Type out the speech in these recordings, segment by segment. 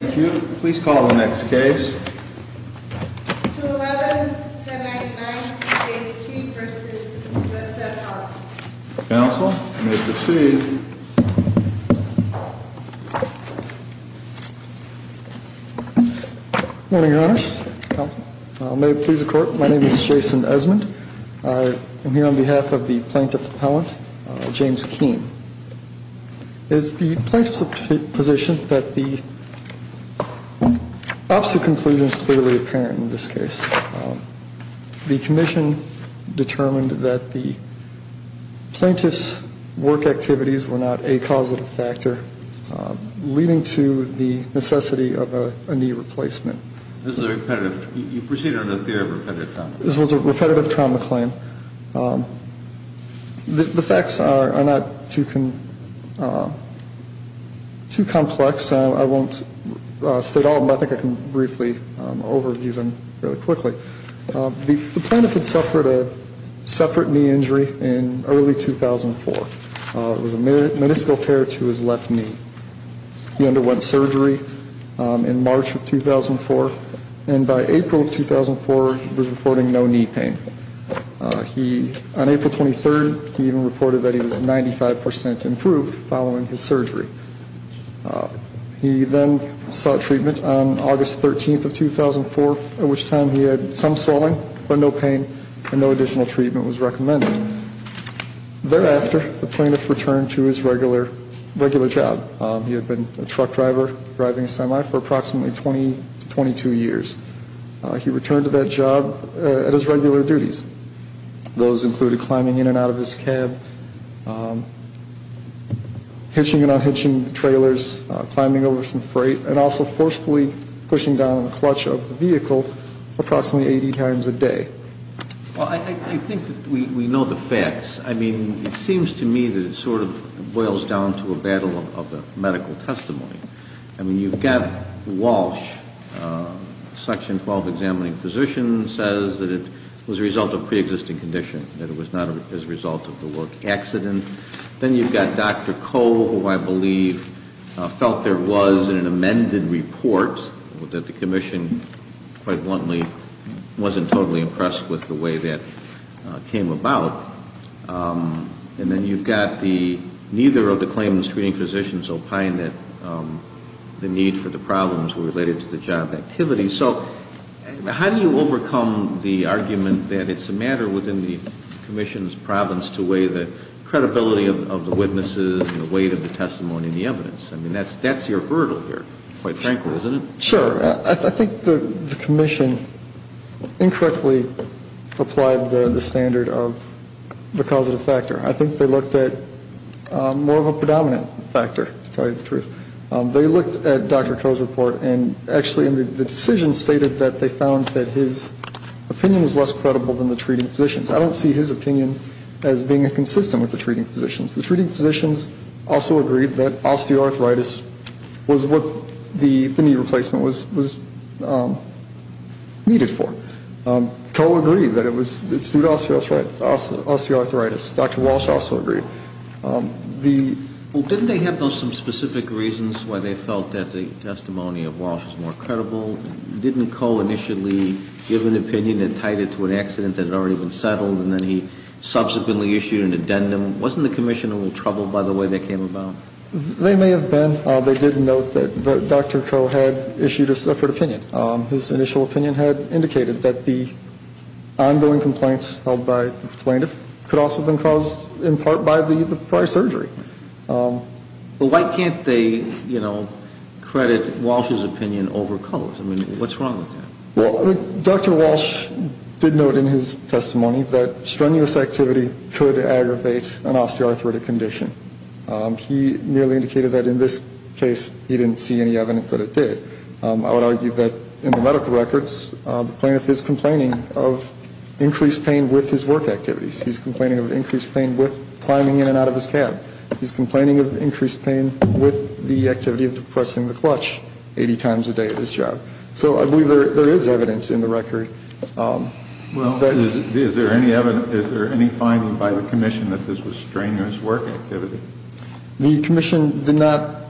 Thank you. Please call the next case. 211-1099 James Keehn v. USF Health Counsel, you may proceed. Good morning, Your Honor. May it please the Court, my name is Jason Esmond. I am here on behalf of the Plaintiff Appellant, James Keehn. It is the Plaintiff's position that the opposite conclusion is clearly apparent in this case. The Commission determined that the Plaintiff's work activities were not a causative factor, leading to the necessity of a knee replacement. This is a repetitive, you proceeded on a theory of repetitive trauma. This was a repetitive trauma claim. The facts are not too complex. I won't state all of them. I think I can briefly overview them fairly quickly. The Plaintiff had suffered a separate knee injury in early 2004. It was a meniscal tear to his left knee. He underwent surgery in March of 2004. And by April of 2004, he was reporting no knee pain. On April 23rd, he even reported that he was 95 percent improved following his surgery. He then sought treatment on August 13th of 2004, at which time he had some swelling but no pain, and no additional treatment was recommended. Thereafter, the Plaintiff returned to his regular job. He had been a truck driver driving a semi for approximately 20 to 22 years. He returned to that job at his regular duties. Those included climbing in and out of his cab, hitching and unhitching the trailers, climbing over some freight, and also forcefully pushing down on the clutch of the vehicle approximately 80 times a day. Well, I think that we know the facts. I mean, it seems to me that it sort of boils down to a battle of the medical testimony. I mean, you've got Walsh, a Section 12 examining physician, says that it was a result of preexisting condition, that it was not as a result of the work accident. Then you've got Dr. Koh, who I believe felt there was an amended report, that the Commission quite bluntly wasn't totally impressed with the way that it came about. And then you've got the neither of the claims treating physicians opined that the need for the problems were related to the job activity. So how do you overcome the argument that it's a matter within the Commission's province to weigh the credibility of the witnesses and the weight of the testimony and the evidence? I mean, that's your hurdle here, quite frankly, isn't it? Sure. I think the Commission incorrectly applied the standard of the causative factor. I think they looked at more of a predominant factor, to tell you the truth. They looked at Dr. Koh's report, and actually the decision stated that they found that his opinion was less credible than the treating physicians'. I don't see his opinion as being consistent with the treating physicians'. The treating physicians also agreed that osteoarthritis was what the knee replacement was needed for. Koh agreed that it was due to osteoarthritis. Dr. Walsh also agreed. Well, didn't they have some specific reasons why they felt that the testimony of Walsh was more credible? Didn't Koh initially give an opinion and tied it to an accident that had already been settled, and then he subsequently issued an addendum? Wasn't the Commission a little troubled by the way they came about? They may have been. They did note that Dr. Koh had issued a separate opinion. His initial opinion had indicated that the ongoing complaints held by the plaintiff could also have been caused in part by the prior surgery. But why can't they, you know, credit Walsh's opinion over Koh's? I mean, what's wrong with that? Well, Dr. Walsh did note in his testimony that strenuous activity could aggravate an osteoarthritic condition. He merely indicated that in this case he didn't see any evidence that it did. I would argue that in the medical records the plaintiff is complaining of increased pain with his work activities. He's complaining of increased pain with climbing in and out of his cab. He's complaining of increased pain with the activity of depressing the clutch 80 times a day at his job. So I believe there is evidence in the record. Is there any finding by the Commission that this was strenuous work activity? The Commission did not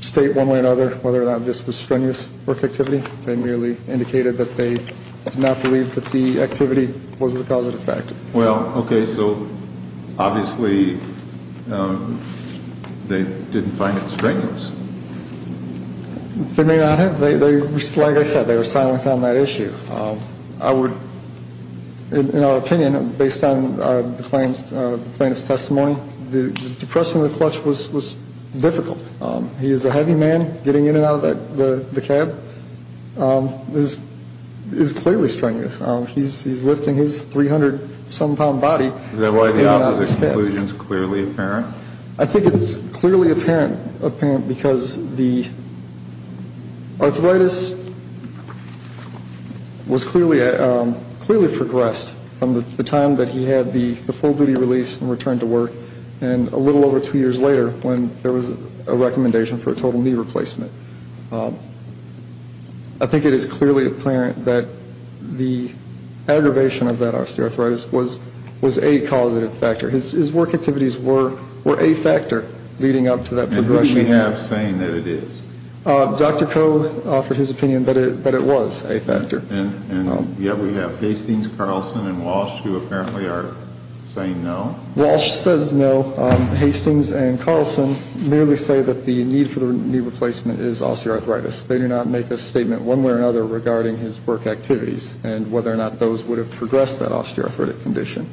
state one way or another whether or not this was strenuous work activity. They merely indicated that they did not believe that the activity was the causative factor. Well, okay, so obviously they didn't find it strenuous. They may not have. Like I said, they were silent on that issue. I would, in our opinion, based on the plaintiff's testimony, depressing the clutch was difficult. He is a heavy man. Getting in and out of the cab is clearly strenuous. He's lifting his 300-some-pound body in and out of his cab. Is that why the opposite conclusion is clearly apparent? I think it's clearly apparent because the arthritis was clearly progressed from the time that he had the full-duty release and returned to work and a little over two years later when there was a recommendation for a total knee replacement. I think it is clearly apparent that the aggravation of that osteoarthritis was a causative factor. His work activities were a factor leading up to that progression. And who do we have saying that it is? Dr. Coe offered his opinion that it was a factor. And yet we have Hastings, Carlson, and Walsh who apparently are saying no. Walsh says no. Hastings and Carlson merely say that the need for the knee replacement is osteoarthritis. They do not make a statement one way or another regarding his work activities and whether or not those would have progressed that osteoarthritic condition.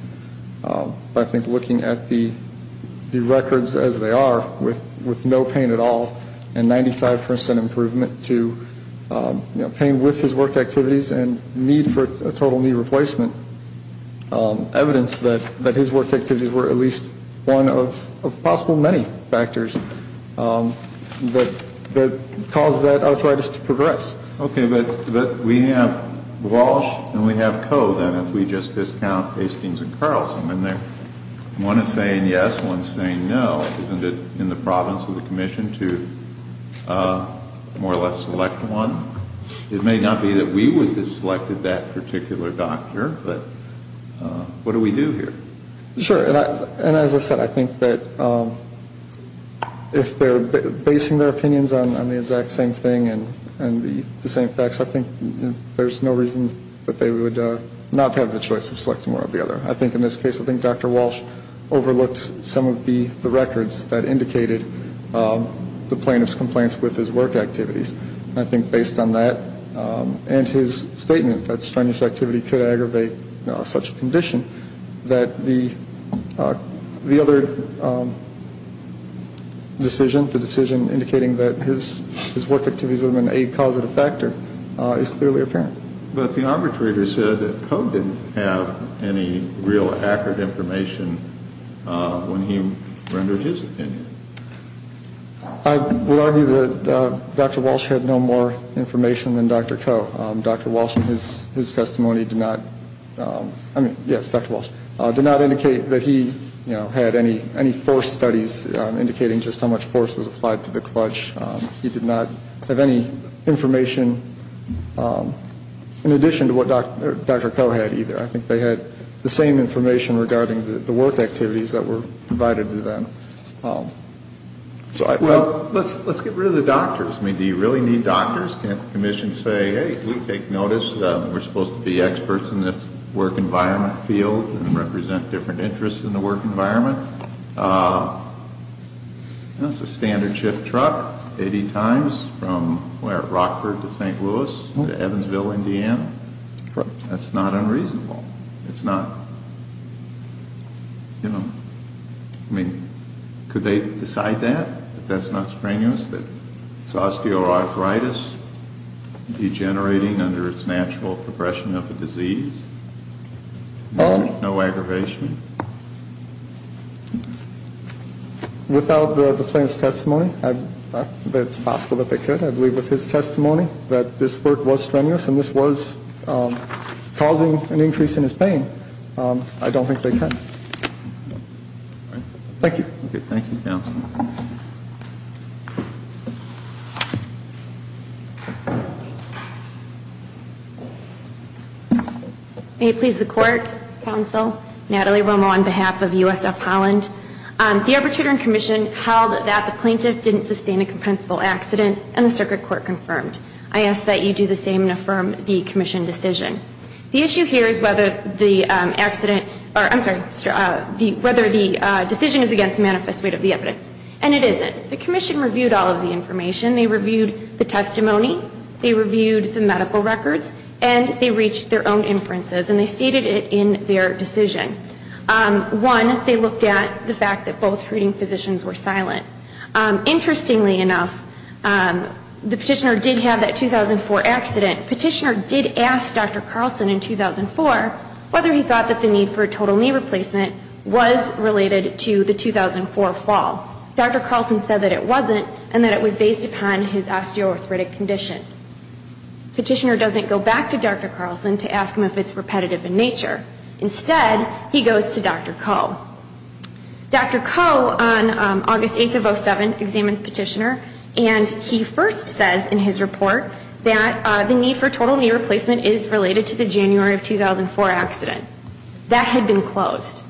But I think looking at the records as they are with no pain at all and 95% improvement to pain with his work activities and need for a total knee replacement, evidence that his work activities were at least one of possible many factors that caused that arthritis to progress. Okay. But we have Walsh and we have Coe then if we just discount Hastings and Carlson. And one is saying yes, one is saying no. Isn't it in the province of the commission to more or less select one? It may not be that we would have selected that particular doctor, but what do we do here? Sure. And as I said, I think that if they're basing their opinions on the exact same thing and the same facts, I think there's no reason that they would not have the choice of selecting one or the other. I think in this case, I think Dr. Walsh overlooked some of the records that indicated the plaintiff's complaints with his work activities. I think based on that and his statement that strenuous activity could aggravate such a condition that the other decision, the decision indicating that his work activities would have been a causative factor is clearly apparent. But the arbitrator said that Coe didn't have any real accurate information when he rendered his opinion. I would argue that Dr. Walsh had no more information than Dr. Coe. Dr. Walsh in his testimony did not, I mean, yes, Dr. Walsh, did not indicate that he had any force studies indicating just how much force was applied to the clutch. He did not have any information in addition to what Dr. Coe had either. I think they had the same information regarding the work activities that were provided to them. Well, let's get rid of the doctors. I mean, do you really need doctors? Can't the commission say, hey, we take notice, we're supposed to be experts in this work environment field and represent different interests in the work environment? That's a standard shift truck 80 times from where, Rockford to St. Louis to Evansville, Indiana. Correct. That's not unreasonable. It's not, you know, I mean, could they decide that, that that's not strenuous, that it's osteoarthritis degenerating under its natural progression of the disease, no aggravation? Without the plaintiff's testimony, it's possible that they could. I believe with his testimony that this work was strenuous and this was causing an increase in his pain. I don't think they can. Thank you. Thank you, counsel. May it please the court, counsel, Natalie Romo on behalf of USF Holland. The arbitrator and commission held that the plaintiff didn't sustain a compensable accident and the circuit court confirmed. I ask that you do the same and affirm the commission decision. The issue here is whether the accident, or I'm sorry, whether the decision is against the manifest weight of the evidence. And it isn't. The commission reviewed all of the information. They reviewed the testimony. They reviewed the medical records. And they reached their own inferences and they stated it in their decision. One, they looked at the fact that both treating physicians were silent. Interestingly enough, the petitioner did have that 2004 accident. Petitioner did ask Dr. Carlson in 2004 whether he thought that the need for a total knee replacement was related to the 2004 fall. Dr. Carlson said that it wasn't and that it was based upon his osteoarthritic condition. Petitioner doesn't go back to Dr. Carlson to ask him if it's repetitive in nature. Instead, he goes to Dr. Koh. Dr. Koh on August 8th of 2007 examines petitioner and he first says in his report that the need for total knee replacement is related to the January of 2004 accident. That had been closed.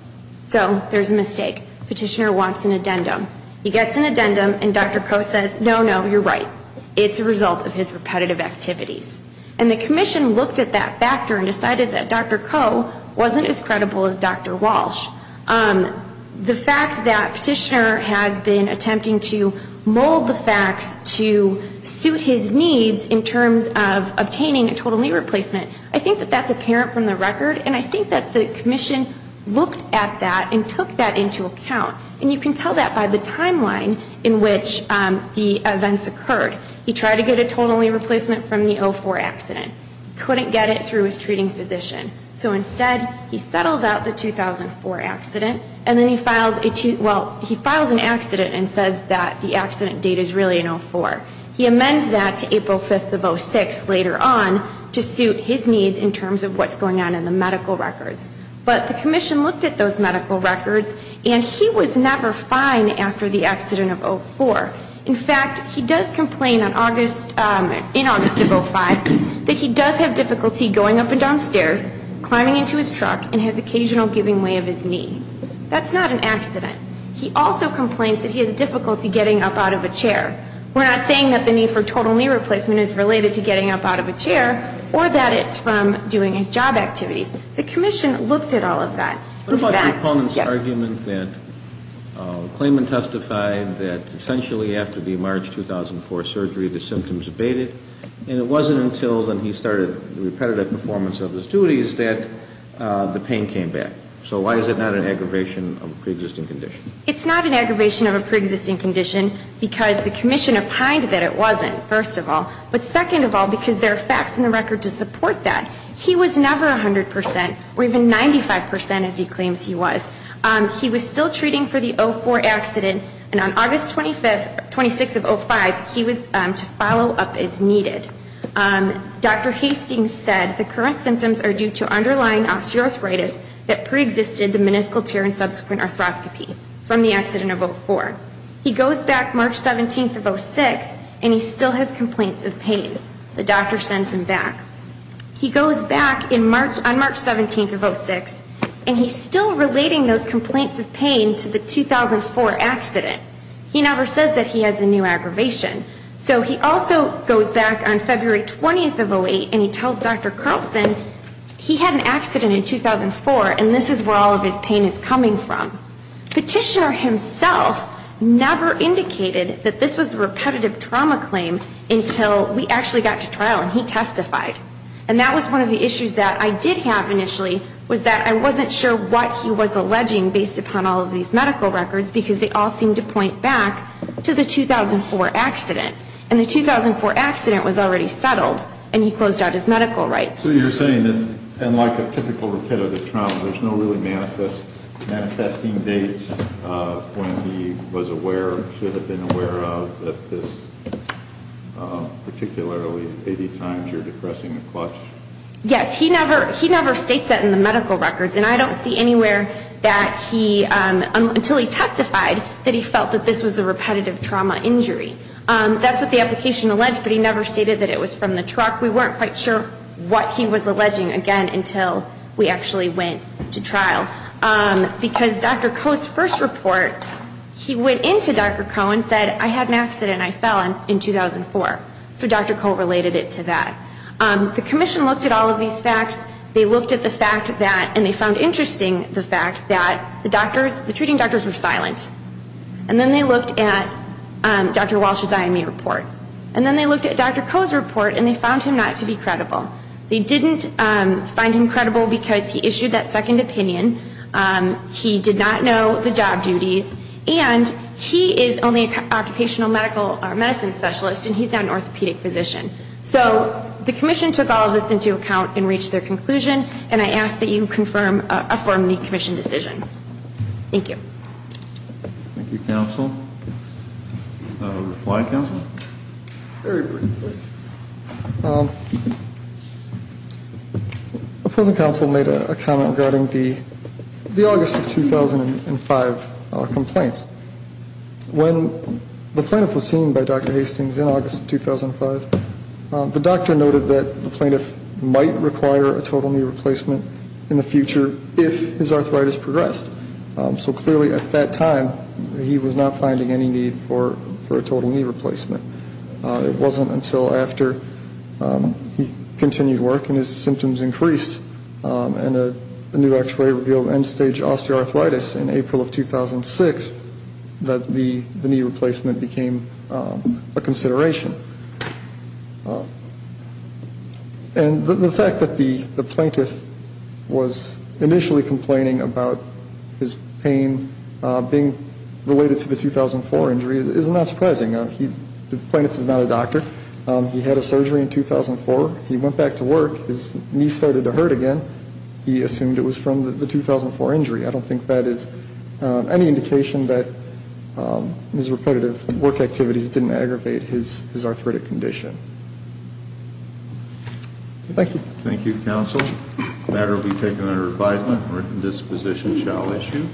So there's a mistake. Petitioner wants an addendum. He gets an addendum and Dr. Koh says, no, no, you're right. It's a result of his repetitive activities. And the commission looked at that factor and decided that Dr. Koh wasn't as credible as Dr. Walsh. The fact that petitioner has been attempting to mold the facts to suit his needs in terms of obtaining a total knee replacement, I think that that's apparent from the record and I think that the commission looked at that and took that into account. And you can tell that by the timeline in which the events occurred. He tried to get a total knee replacement from the 04 accident. Couldn't get it through his treating physician. So instead, he settles out the 2004 accident and then he files an accident and says that the accident date is really in 04. He amends that to April 5th of 06 later on to suit his needs in terms of what's going on in the medical records. But the commission looked at those medical records and he was never fined after the accident of 04. In fact, he does complain in August of 05 that he does have difficulty going up and down stairs, climbing into his truck and has occasional giving way of his knee. That's not an accident. He also complains that he has difficulty getting up out of a chair. We're not saying that the need for total knee replacement is related to getting up out of a chair or that it's from doing his job activities. The commission looked at all of that. What about your opponent's argument that Clayman testified that essentially after the March 2004 surgery, the symptoms abated and it wasn't until when he started the repetitive performance of his duties that the pain came back. So why is it not an aggravation of a preexisting condition? It's not an aggravation of a preexisting condition because the commission opined that it wasn't, first of all. But second of all, because there are facts in the record to support that. He was never 100% or even 95%, as he claims he was. He was still treating for the 04 accident, and on August 26th of 05, he was to follow up as needed. Dr. Hastings said the current symptoms are due to underlying osteoarthritis that preexisted the meniscal tear and subsequent arthroscopy from the accident of 04. He goes back March 17th of 06, and he still has complaints of pain. The doctor sends him back. He goes back on March 17th of 06, and he's still relating those complaints of pain to the 2004 accident. He never says that he has a new aggravation. So he also goes back on February 20th of 08, and he tells Dr. Carlson he had an accident in 2004, and this is where all of his pain is coming from. Petitioner himself never indicated that this was a repetitive trauma claim until we actually got to trial, and he testified. And that was one of the issues that I did have initially, was that I wasn't sure what he was alleging based upon all of these medical records, because they all seemed to point back to the 2004 accident. And the 2004 accident was already settled, and he closed out his medical rights. So you're saying that, unlike a typical repetitive trauma, there's no really manifesting dates when he was aware or should have been aware of that this, particularly 80 times you're depressing the clutch? Yes. He never states that in the medical records, and I don't see anywhere that he, until he testified, that he felt that this was a repetitive trauma injury. That's what the application alleged, but he never stated that it was from the truck. We weren't quite sure what he was alleging, again, until we actually went to trial. Because Dr. Koh's first report, he went into Dr. Koh and said, I had an accident and I fell in 2004. So Dr. Koh related it to that. The commission looked at all of these facts. They looked at the fact that, and they found interesting the fact that the doctors, the treating doctors were silent. And then they looked at Dr. Walsh's IME report. And then they looked at Dr. Koh's report, and they found him not to be credible. They didn't find him credible because he issued that second opinion. He did not know the job duties. And he is only an occupational medicine specialist, and he's not an orthopedic physician. So the commission took all of this into account and reached their conclusion, and I ask that you confirm, affirm the commission decision. Thank you. Thank you, counsel. A reply, counsel? Very briefly. Opposing counsel made a comment regarding the August of 2005 complaints. When the plaintiff was seen by Dr. Hastings in August of 2005, the doctor noted that the plaintiff might require a total knee replacement in the future if his arthritis progressed. So clearly at that time he was not finding any need for a total knee replacement. It wasn't until after he continued work and his symptoms increased and a new x-ray revealed end-stage osteoarthritis in April of 2006 that the knee replacement became a consideration. And the fact that the plaintiff was initially complaining about his pain being related to the 2004 injury is not surprising. The plaintiff is not a doctor. He had a surgery in 2004. He went back to work. His knee started to hurt again. He assumed it was from the 2004 injury. I don't think that is any indication that his repetitive work activities didn't aggravate his arthritis. Thank you. Thank you, counsel. The matter will be taken under advisement. A written disposition shall issue.